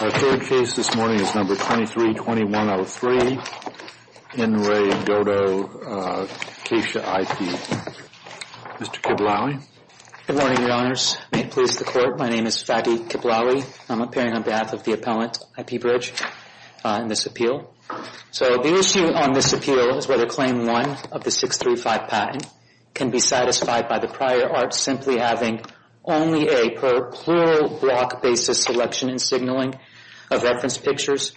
Our third case this morning is No. 23-2103, In Re. Godo Kaisha IP. Mr. Kiblawi. Good morning, Your Honors. May it please the Court, my name is Fadi Kiblawi. I'm appearing on behalf of the appellant, IP Bridge, in this appeal. So the issue on this appeal is whether Claim 1 of the 635 patent can be satisfied by the prior art simply having only a per-plural block basis selection and signaling of reference pictures,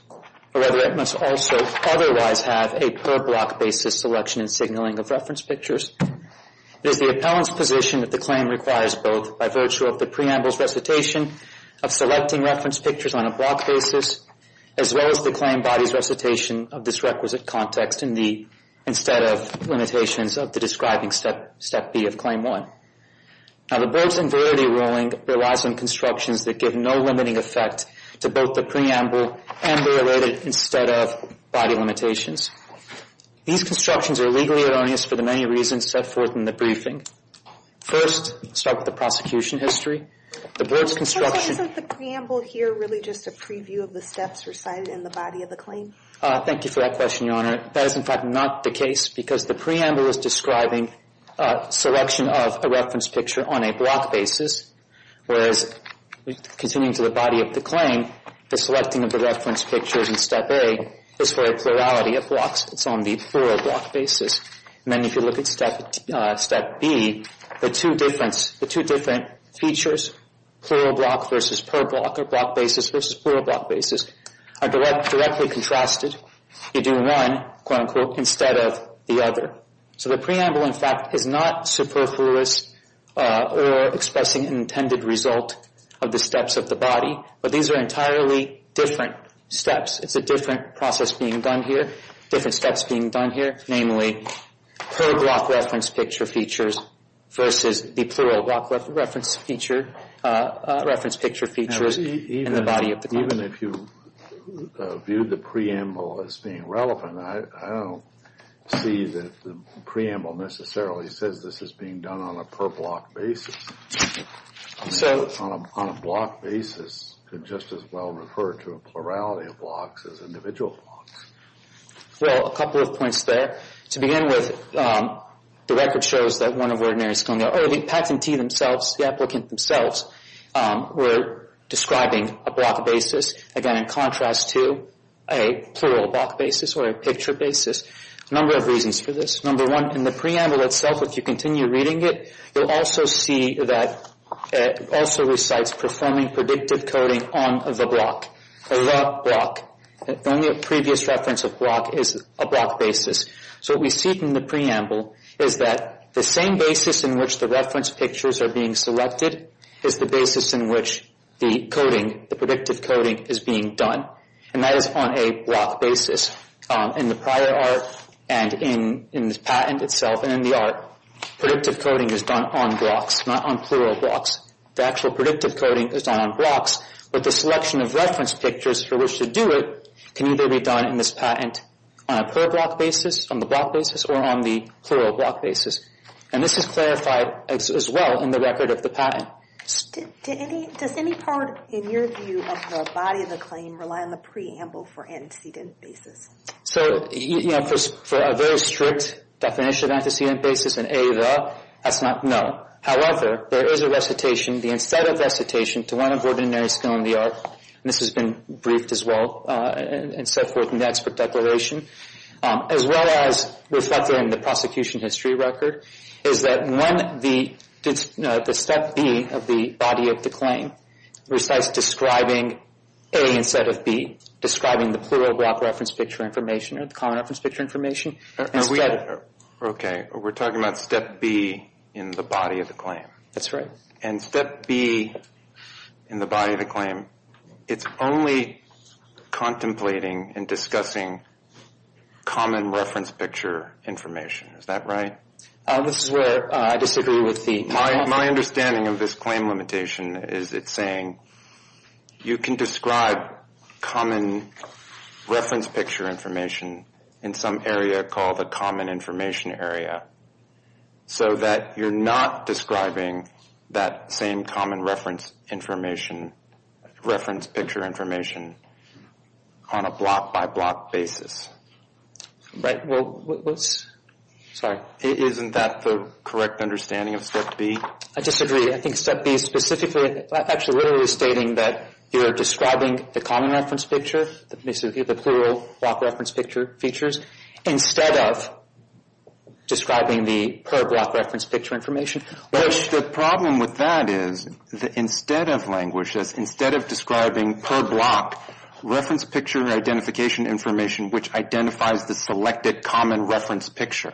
or whether it must also otherwise have a per-block basis selection and signaling of reference pictures. It is the appellant's position that the claim requires both by virtue of the preamble's recitation of selecting reference pictures on a block basis, as well as the claim body's recitation of this requisite context instead of limitations of the describing Step B of Claim 1. Now the board's invarity ruling relies on constructions that give no limiting effect to both the preamble and the related instead of body limitations. These constructions are legally erroneous for the many reasons set forth in the briefing. First, start with the prosecution history. The board's construction... So isn't the preamble here really just a preview of the steps recited in the body of the claim? Thank you for that question, Your Honor. That is in fact not the case because the preamble is describing a selection of a reference picture on a block basis, whereas continuing to the body of the claim, the selecting of the reference pictures in Step A is for a plurality of blocks. It's on the plural block basis. And then if you look at Step B, the two different features, plural block versus per-block, or block basis versus plural block basis, are directly contrasted. You do one, quote-unquote, instead of the other. So the preamble, in fact, is not superfluous or expressing an intended result of the steps of the body, but these are entirely different steps. It's a different process being done here, different steps being done here, namely per-block reference picture features versus the plural block reference picture features in the body of the claim. Even if you viewed the preamble as being relevant, I don't see that the preamble necessarily says this is being done on a per-block basis. On a block basis, it just as well referred to a plurality of blocks as individual blocks. Well, a couple of points there. To begin with, the record shows that one of Ordinary School, or the patentee themselves, the applicant themselves, were describing a block basis, again, in contrast to a plural block basis or a picture basis. A number of reasons for this. Number one, in the preamble itself, if you continue reading it, you'll also see that it also recites performing predictive coding on the block. The block. Only a previous reference of block is a block basis. So what we see from the preamble is that the same basis in which the reference pictures are being selected is the basis in which the coding, the predictive coding, is being done, and that is on a block basis. In the prior art and in this patent itself and in the art, predictive coding is done on blocks, not on plural blocks. The actual predictive coding is done on blocks, but the selection of reference pictures for which to do it can either be done in this patent on a plural block basis, on the block basis, or on the plural block basis. And this is clarified as well in the record of the patent. Does any part, in your view, of the body of the claim rely on the preamble for antecedent basis? So, you know, for a very strict definition of antecedent basis, an A, the, that's not, no. However, there is a recitation, the instead of recitation, to one of ordinary skill in the art, and this has been briefed as well and set forth in the expert declaration, as well as reflected in the prosecution history record, is that one, the step B of the body of the claim recites describing A instead of B, describing the plural block reference picture information or the common reference picture information. Okay, we're talking about step B in the body of the claim. That's right. And step B in the body of the claim, it's only contemplating and discussing common reference picture information. Is that right? This is where I disagree with the. My understanding of this claim limitation is it's saying you can describe common reference picture information in some area called the common information area, so that you're not describing that same common reference information, reference picture information, on a block by block basis. Right. Sorry. Isn't that the correct understanding of step B? I disagree. I think step B specifically, actually literally stating that you're describing the common reference picture, the plural block reference picture features, instead of describing the per block reference picture information. The problem with that is that instead of languages, instead of describing per block reference picture identification information, which identifies the selected common reference picture.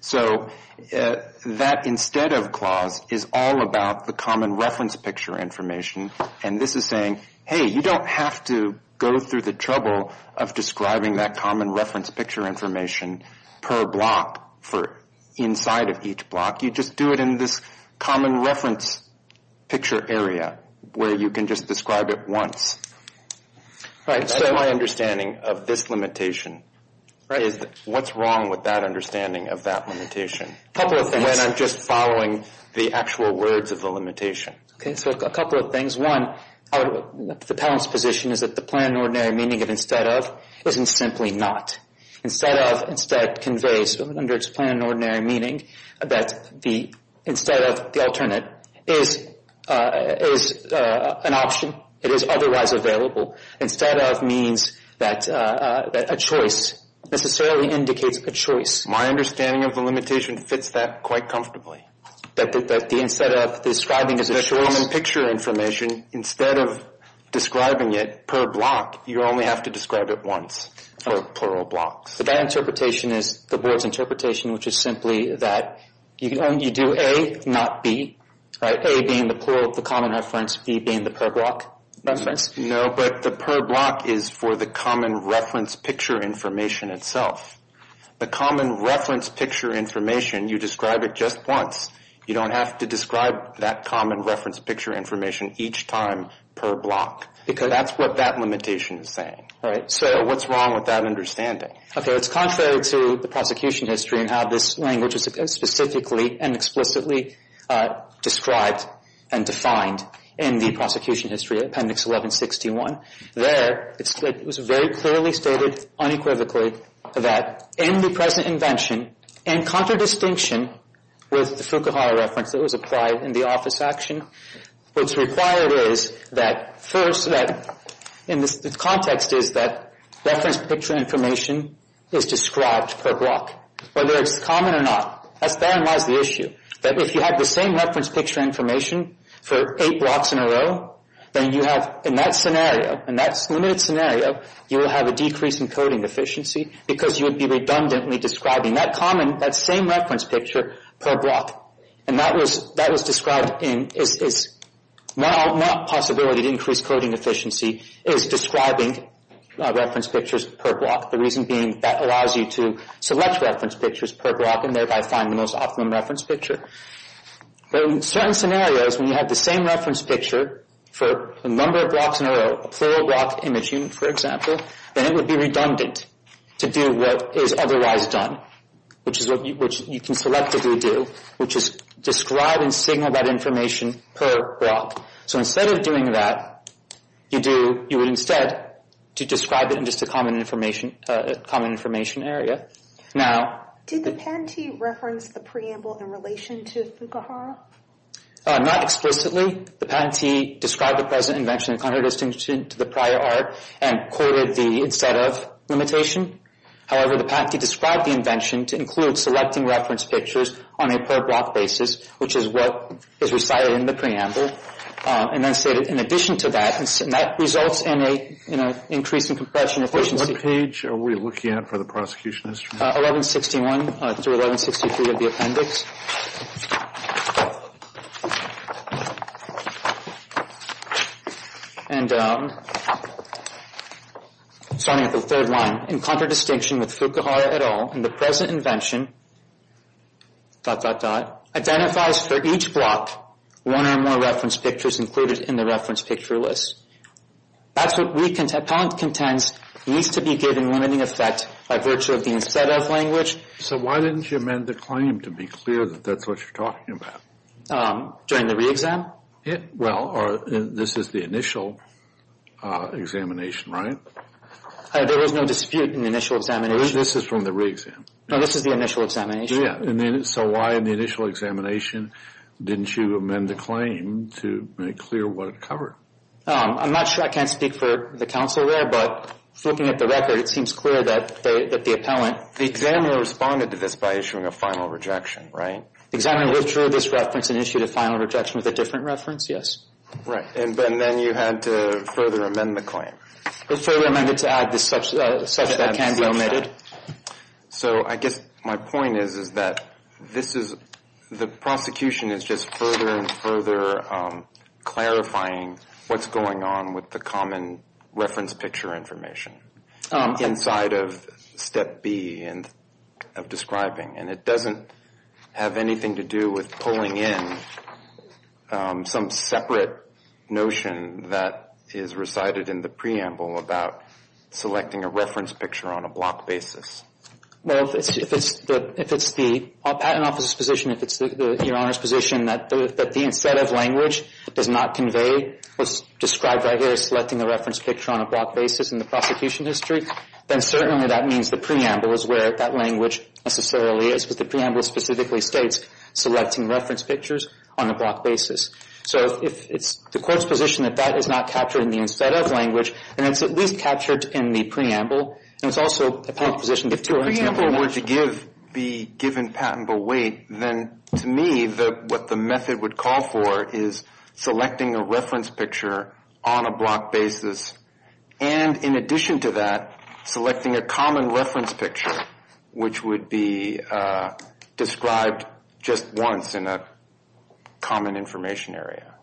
So that instead of clause is all about the common reference picture information, and this is saying, hey, you don't have to go through the trouble of describing that common reference picture information per block for inside of each block. You just do it in this common reference picture area where you can just describe it once. Right. That's my understanding of this limitation. Right. What's wrong with that understanding of that limitation? A couple of things. When I'm just following the actual words of the limitation. Okay. So a couple of things. One, the panel's position is that the plain and ordinary meaning of instead of isn't simply not. Instead of instead conveys, under its plain and ordinary meaning, that the instead of, the alternate, is an option. It is otherwise available. Instead of means that a choice necessarily indicates a choice. My understanding of the limitation fits that quite comfortably. That the instead of describing as a choice. The common picture information, instead of describing it per block, you only have to describe it once for plural blocks. So that interpretation is the board's interpretation, which is simply that you do A, not B. Right. A being the plural of the common reference, B being the per block reference. No, but the per block is for the common reference picture information itself. The common reference picture information, you describe it just once. You don't have to describe that common reference picture information each time per block. Because. That's what that limitation is saying. Right. So what's wrong with that understanding? Okay. It's contrary to the prosecution history and how this language is specifically and explicitly described and defined in the prosecution history, appendix 1161. There, it was very clearly stated, unequivocally, that in the present invention. In contradistinction with the Fukuhara reference that was applied in the office action. What's required is that first that in this context is that reference picture information is described per block. Whether it's common or not. That's therein lies the issue. That if you have the same reference picture information for eight blocks in a row. Then you have, in that scenario. In that limited scenario. You will have a decrease in coding efficiency. Because you would be redundantly describing that common, that same reference picture per block. And that was described in. It's not a possibility to increase coding efficiency. It is describing reference pictures per block. The reason being that allows you to select reference pictures per block. And thereby find the most optimum reference picture. But in certain scenarios. When you have the same reference picture for a number of blocks in a row. A plural block image unit, for example. Then it would be redundant to do what is otherwise done. Which is what you can selectively do. Which is describe and signal that information per block. So instead of doing that. You would instead describe it in just a common information area. Did the patentee reference the preamble in relation to Fukuhara? Not explicitly. The patentee described the present invention in contradistinction to the prior art. And quoted the instead of limitation. However, the patentee described the invention. To include selecting reference pictures on a per block basis. Which is what is recited in the preamble. And then stated in addition to that. And that results in an increase in compression efficiency. What page are we looking at for the prosecution history? 1161 through 1163 of the appendix. And starting at the third line. In contradistinction with Fukuhara et al. In the present invention. Dot dot dot. Identifies for each block. One or more reference pictures included in the reference picture list. That's what we contend. Needs to be given limiting effect by virtue of the instead of language. So why didn't you amend the claim to be clear that that's what you're talking about? During the re-exam? Well, this is the initial examination, right? There was no dispute in the initial examination. This is from the re-exam. No, this is the initial examination. Yeah. So why in the initial examination didn't you amend the claim to make clear what it covered? I'm not sure. I can't speak for the counsel there. But looking at the record, it seems clear that the appellant. The examiner responded to this by issuing a final rejection, right? The examiner withdrew this reference and issued a final rejection with a different reference, yes. Right. And then you had to further amend the claim. Further amend it to add such that can be omitted. So I guess my point is that this is the prosecution is just further and further clarifying what's going on with the common reference picture information inside of step B of describing. And it doesn't have anything to do with pulling in some separate notion that is recited in the preamble about selecting a reference picture on a block basis. Well, if it's the patent office's position, if it's your Honor's position that the instead of language does not convey what's described right here as selecting a reference picture on a block basis in the prosecution history, then certainly that means the preamble is where that language necessarily is. But the preamble specifically states selecting reference pictures on a block basis. So if it's the court's position that that is not captured in the instead of language, and it's at least captured in the preamble, and it's also a public position. If the preamble were to be given patentable weight, then to me what the method would call for is selecting a reference picture on a block basis. And in addition to that, selecting a common reference picture, which would be described just once in a common information area.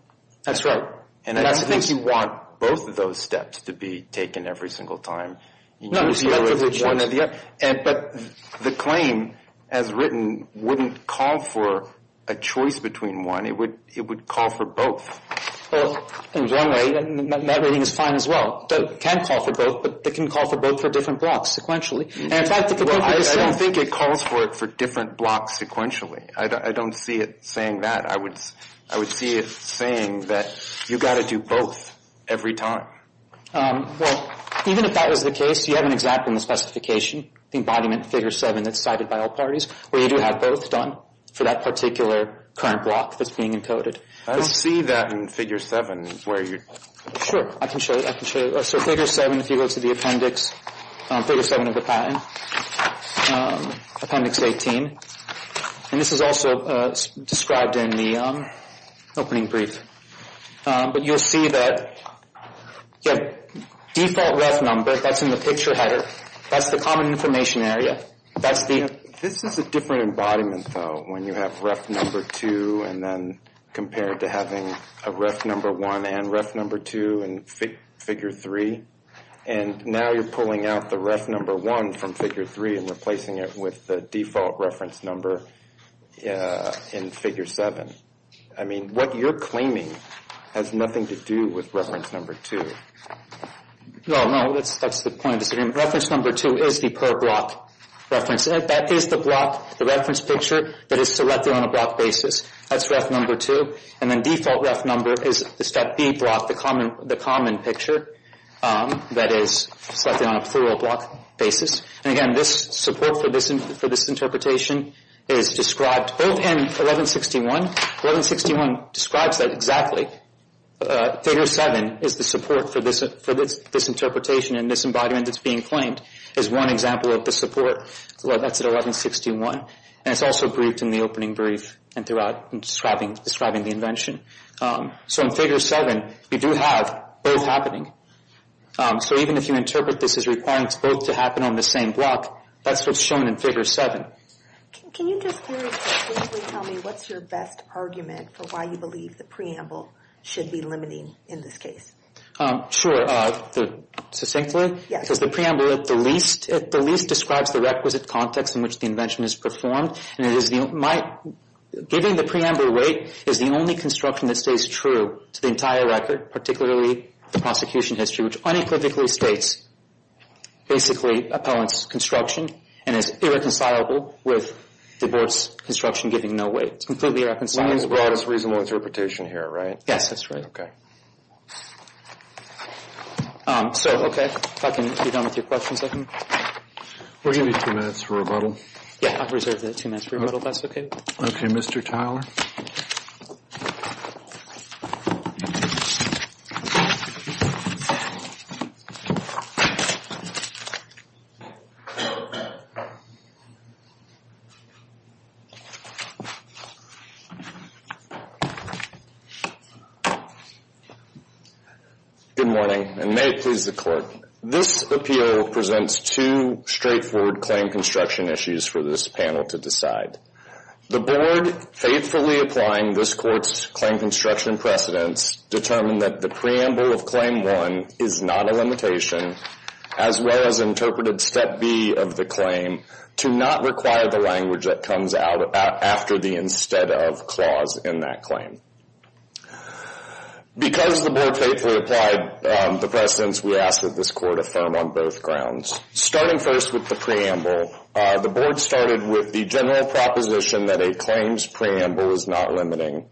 That's right. And I think you want both of those steps to be taken every single time. But the claim, as written, wouldn't call for a choice between one. It would call for both. Well, in one way, that reading is fine as well. It can call for both, but it can call for both for different blocks sequentially. I don't think it calls for it for different blocks sequentially. I don't see it saying that. I would see it saying that you've got to do both every time. Well, even if that was the case, you have an example in the specification, the embodiment figure 7 that's cited by all parties, where you do have both done for that particular current block that's being encoded. I don't see that in figure 7 where you're... Sure. I can show you. I can show you. So figure 7, if you go to the appendix, figure 7 of the patent, appendix 18. And this is also described in the opening brief. But you'll see that you have default ref number. That's in the picture header. That's the common information area. That's the... This is a different embodiment, though, when you have ref number 2 and then compare it to having a ref number 1 and ref number 2 in figure 3. And now you're pulling out the ref number 1 from figure 3 and replacing it with the default reference number in figure 7. I mean, what you're claiming has nothing to do with reference number 2. No, no. That's the point of disagreement. Reference number 2 is the per block reference. That is the block, the reference picture that is selected on a block basis. That's ref number 2. And then default ref number is the step B block, the common picture that is selected on a plural block basis. And again, this support for this interpretation is described both in 1161. 1161 describes that exactly. Figure 7 is the support for this interpretation and this embodiment that's being claimed is one example of the support. That's at 1161. And it's also briefed in the opening brief and throughout describing the invention. So in figure 7, you do have both happening. So even if you interpret this as requiring both to happen on the same block, that's what's shown in figure 7. Can you just very succinctly tell me what's your best argument for why you believe the preamble should be limiting in this case? Sure. Succinctly? Yes. Because the preamble at the least describes the requisite context in which the invention is performed. And giving the preamble weight is the only construction that stays true to the entire record, particularly the prosecution history, which unequivocally states basically appellant's construction and is irreconcilable with the board's construction giving no weight. It's completely irreconcilable. The broadest reasonable interpretation here, right? Yes, that's right. Okay. So, okay, if I can get on with your questions. We're going to be two minutes for rebuttal. Yeah, I've reserved two minutes for rebuttal if that's okay with you. Okay, Mr. Tyler. Good morning, and may it please the court. This appeal presents two straightforward claim construction issues for this panel to decide. The board faithfully applying this court's claim construction precedents determined that the preamble of Claim 1 is not a limitation, as well as interpreted Step B of the claim to not require the language that comes out after the instead of clause in that claim. Because the board faithfully applied the precedents, we ask that this court affirm on both grounds. Starting first with the preamble, the board started with the general proposition that a claim's preamble is not limiting,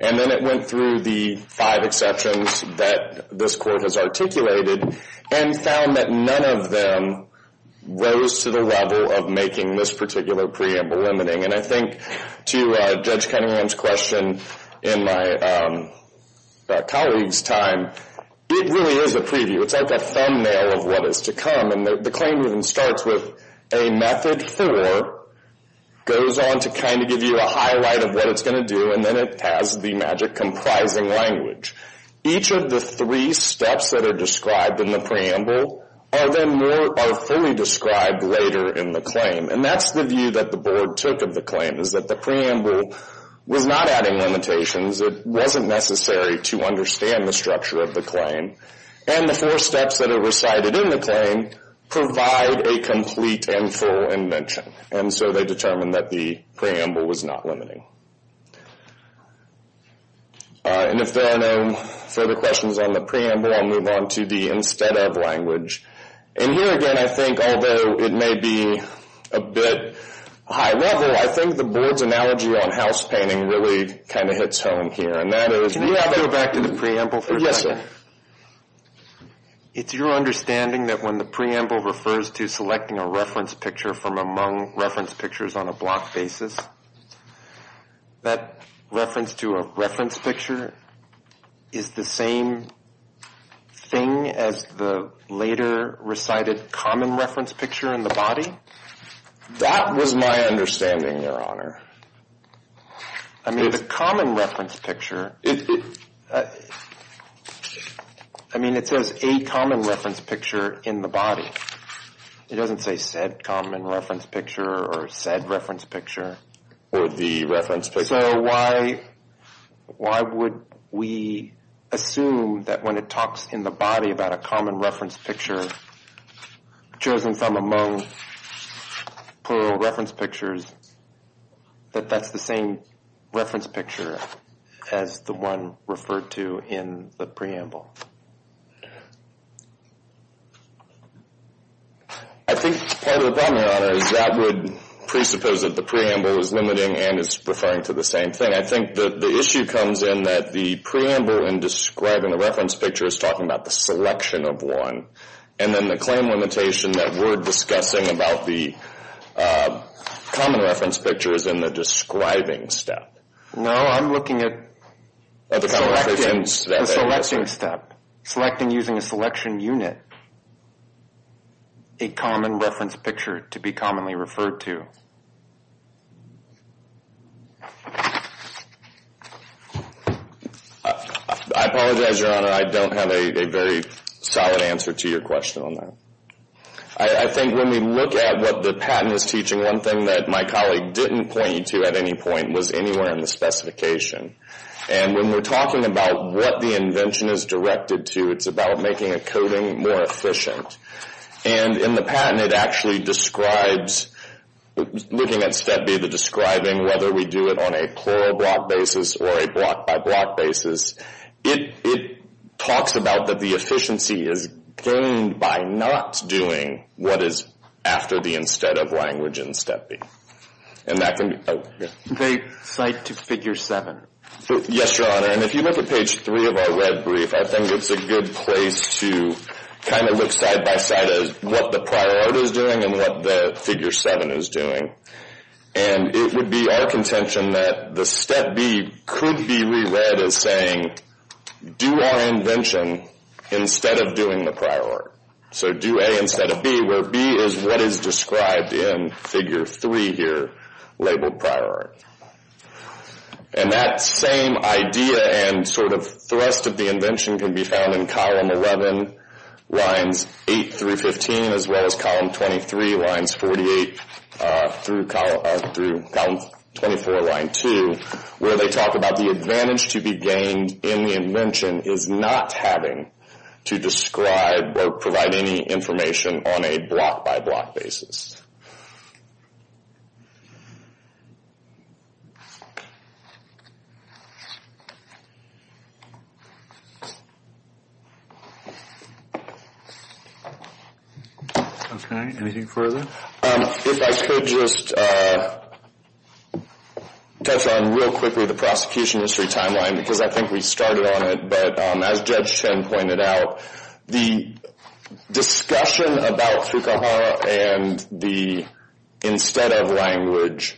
and then it went through the five exceptions that this court has articulated and found that none of them rose to the level of making this particular preamble limiting. And I think to Judge Cunningham's question in my colleague's time, it really is a preview. It's like a thumbnail of what is to come. And the claim even starts with a method for, goes on to kind of give you a highlight of what it's going to do, and then it has the magic comprising language. Each of the three steps that are described in the preamble are then more, are fully described later in the claim. And that's the view that the board took of the claim, is that the preamble was not adding limitations. It wasn't necessary to understand the structure of the claim. And the four steps that are recited in the claim provide a complete and full invention. And so they determined that the preamble was not limiting. And if there are no further questions on the preamble, I'll move on to the instead of language. And here again, I think although it may be a bit high level, I think the board's analogy on house painting really kind of hits home here. And that is. Can we go back to the preamble for a second? Yes, sir. It's your understanding that when the preamble refers to selecting a reference picture from among reference pictures on a block basis, that reference to a reference picture is the same thing as the later recited common reference picture in the body? That was my understanding, Your Honor. I mean, the common reference picture. I mean, it says a common reference picture in the body. It doesn't say said common reference picture or said reference picture. Or the reference picture. So why would we assume that when it talks in the body about a common reference picture chosen from among plural reference pictures, that that's the same reference picture as the one referred to in the preamble? I think part of the problem, Your Honor, is that would presuppose that the preamble is limiting and is referring to the same thing. I think the issue comes in that the preamble in describing a reference picture is talking about the selection of one. And then the claim limitation that we're discussing about the common reference picture is in the describing step. No, I'm looking at the selecting step. Selecting using a selection unit, a common reference picture to be commonly referred to. I apologize, Your Honor. I don't have a very solid answer to your question on that. I think when we look at what the patent is teaching, one thing that my colleague didn't point you to at any point was anywhere in the specification. And when we're talking about what the invention is directed to, it's about making a coding more efficient. And in the patent, it actually describes, looking at Step B, the describing whether we do it on a plural block basis or a block-by-block basis. It talks about that the efficiency is gained by not doing what is after the instead of language in Step B. They cite to Figure 7. Yes, Your Honor. And if you look at Page 3 of our red brief, I think it's a good place to kind of look side-by-side of what the prior art is doing and what the Figure 7 is doing. And it would be our contention that the Step B could be re-read as saying, do our invention instead of doing the prior art. So do A instead of B, where B is what is described in Figure 3 here, labeled prior art. And that same idea and sort of thrust of the invention can be found in Column 11, Lines 8 through 15, as well as Column 23, Lines 48 through Column 24, Line 2, where they talk about the advantage to be gained in the invention is not having to describe or provide any information on a block-by-block basis. Okay. Anything further? If I could just touch on real quickly the prosecution history timeline, because I think we started on it, but as Judge Chen pointed out, the discussion about Fukuhara and the instead of language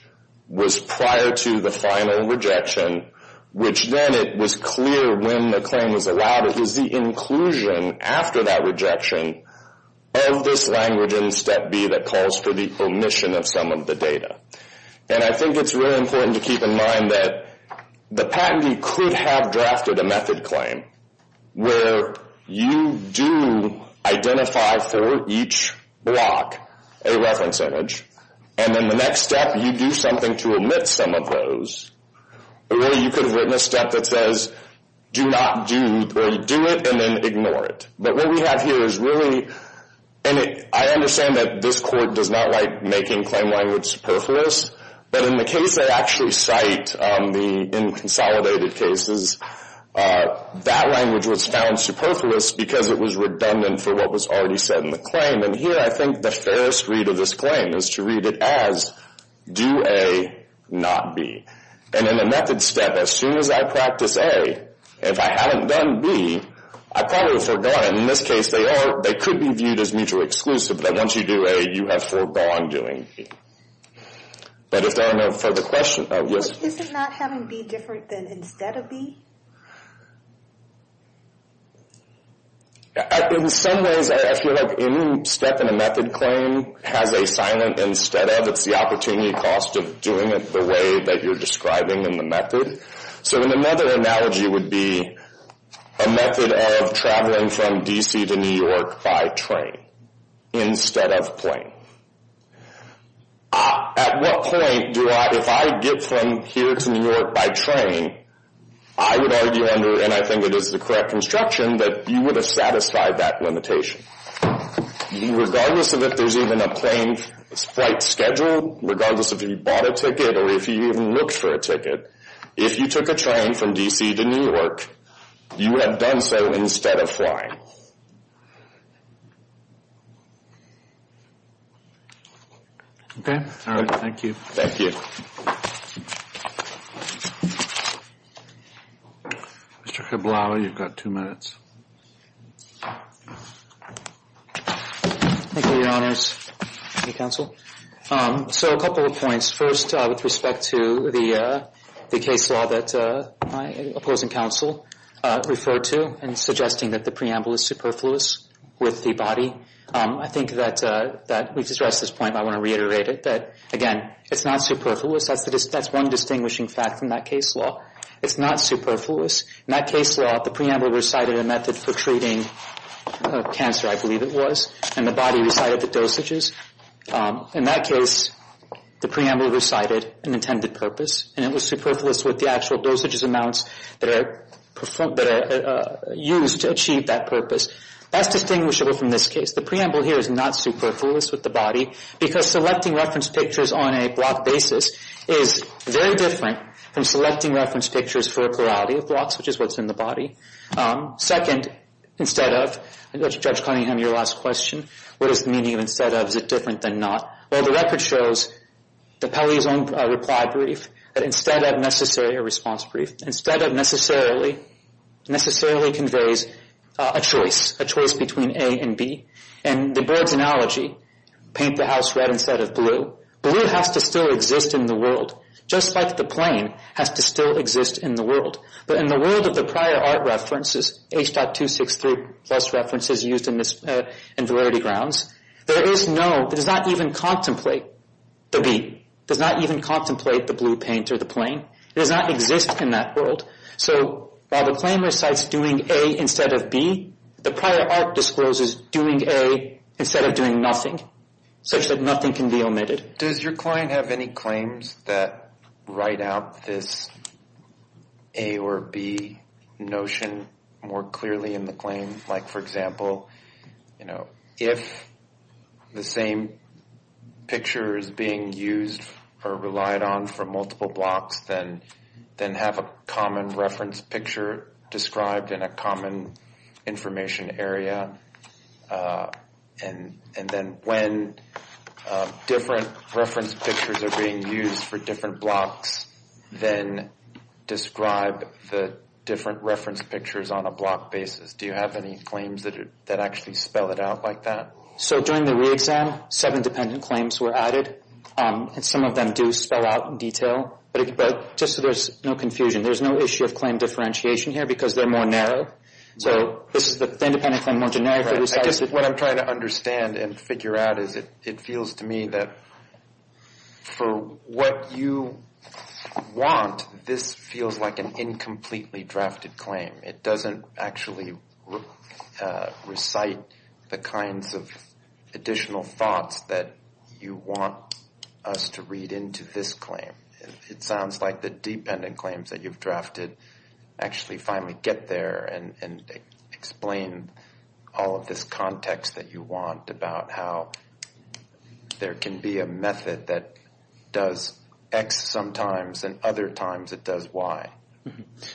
was prior to the final rejection, which then it was clear when the claim was allowed. It was the inclusion after that rejection of this language in Step B that calls for the omission of some of the data. And I think it's really important to keep in mind that the patentee could have drafted a method claim where you do identify for each block a reference image, and then the next step you do something to omit some of those. But really you could have written a step that says do not do, or you do it and then ignore it. But what we have here is really, and I understand that this court does not like making claim language superfluous, but in the case I actually cite, in consolidated cases, that language was found superfluous because it was redundant for what was already said in the claim. And here I think the fairest read of this claim is to read it as do A, not B. And in the method step, as soon as I practice A, if I hadn't done B, I probably would have forgotten. In this case, they could be viewed as mutually exclusive, that once you do A, you have foregone doing B. But if there are no further questions, yes? This is not having B different than instead of B? In some ways, I feel like any step in a method claim has a silent instead of. It's the opportunity cost of doing it the way that you're describing in the method. So in another analogy would be a method of traveling from D.C. to New York by train instead of plane. At what point do I, if I get from here to New York by train, I would argue under, and I think it is the correct instruction, that you would have satisfied that limitation. Regardless of if there's even a plane flight schedule, regardless if you bought a ticket or if you even looked for a ticket, if you took a train from D.C. to New York, you have done so instead of flying. Okay. All right. Thank you. Thank you. Mr. Cabral, you've got two minutes. Thank you, Your Honors. Counsel. So a couple of points. First, with respect to the case law that my opposing counsel referred to in suggesting that the preamble is superfluous with the body. I think that we've addressed this point, but I want to reiterate it. Again, it's not superfluous. That's one distinguishing fact in that case law. It's not superfluous. In that case law, the preamble recited a method for treating cancer, I believe it was, and the body recited the dosages. In that case, the preamble recited an intended purpose, and it was superfluous with the actual dosages amounts that are used to achieve that purpose. That's distinguishable from this case. The preamble here is not superfluous with the body because selecting reference pictures on a block basis is very different from selecting reference pictures for a plurality of blocks, which is what's in the body. Second, instead of, Judge Cunningham, your last question, what is the meaning of instead of? Is it different than not? Well, the record shows that Pelley's own reply brief, that instead of necessarily a response brief, instead of necessarily conveys a choice, a choice between A and B. In the board's analogy, paint the house red instead of blue, blue has to still exist in the world, just like the plane has to still exist in the world. But in the world of the prior art references, H.263 plus references used in validity grounds, there is no, it does not even contemplate the B, it does not even contemplate the blue paint or the plane. It does not exist in that world. So while the claim recites doing A instead of B, the prior art discloses doing A instead of doing nothing, such that nothing can be omitted. Does your client have any claims that write out this A or B notion more clearly in the claim? Like, for example, you know, if the same picture is being used or relied on for multiple blocks, then have a common reference picture described in a common information area. And then when different reference pictures are being used for different blocks, then describe the different reference pictures on a block basis. Do you have any claims that actually spell it out like that? So during the re-exam, seven dependent claims were added, and some of them do spell out in detail. But just so there's no confusion, there's no issue of claim differentiation here because they're more narrow. So this is the independent claim more generic. I guess what I'm trying to understand and figure out is it feels to me that for what you want, this feels like an incompletely drafted claim. It doesn't actually recite the kinds of additional thoughts that you want us to read into this claim. It sounds like the dependent claims that you've drafted actually finally get there and explain all of this context that you want about how there can be a method that does X sometimes and other times it does Y.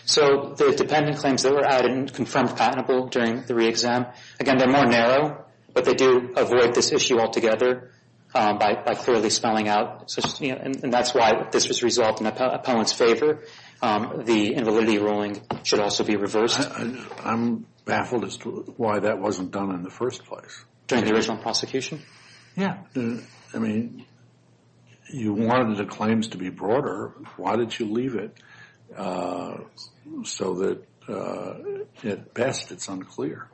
So the dependent claims that were added and confirmed patentable during the re-exam, again, they're more narrow, but they do avoid this issue altogether by clearly spelling out. And that's why this was resolved in the appellant's favor. The invalidity ruling should also be reversed. I'm baffled as to why that wasn't done in the first place. During the original prosecution? Yeah. I mean, you wanted the claims to be broader. Why did you leave it so that at best it's unclear?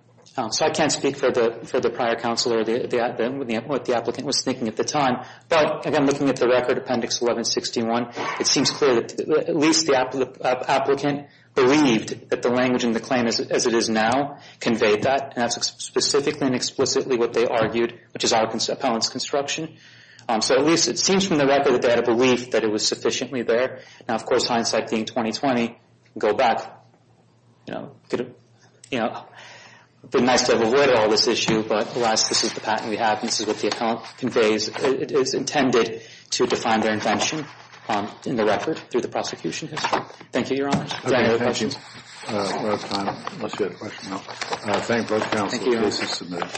So I can't speak for the prior counsel or what the applicant was thinking at the time. But, again, looking at the record, Appendix 1161, it seems clear that at least the applicant believed that the language in the claim, as it is now, conveyed that. And that's specifically and explicitly what they argued, which is our appellant's construction. So at least it seems from the record that they had a belief that it was sufficiently there. Now, of course, hindsight being 20-20, go back. It would have been nice to have avoided all this issue, but, alas, this is the patent we have and this is what the account conveys. It is intended to define their invention in the record through the prosecution history. Thank you, Your Honor. Is there any other questions? We're out of time, unless you have a question. Thank you both counsel. Thank you, Your Honor. The case is submitted.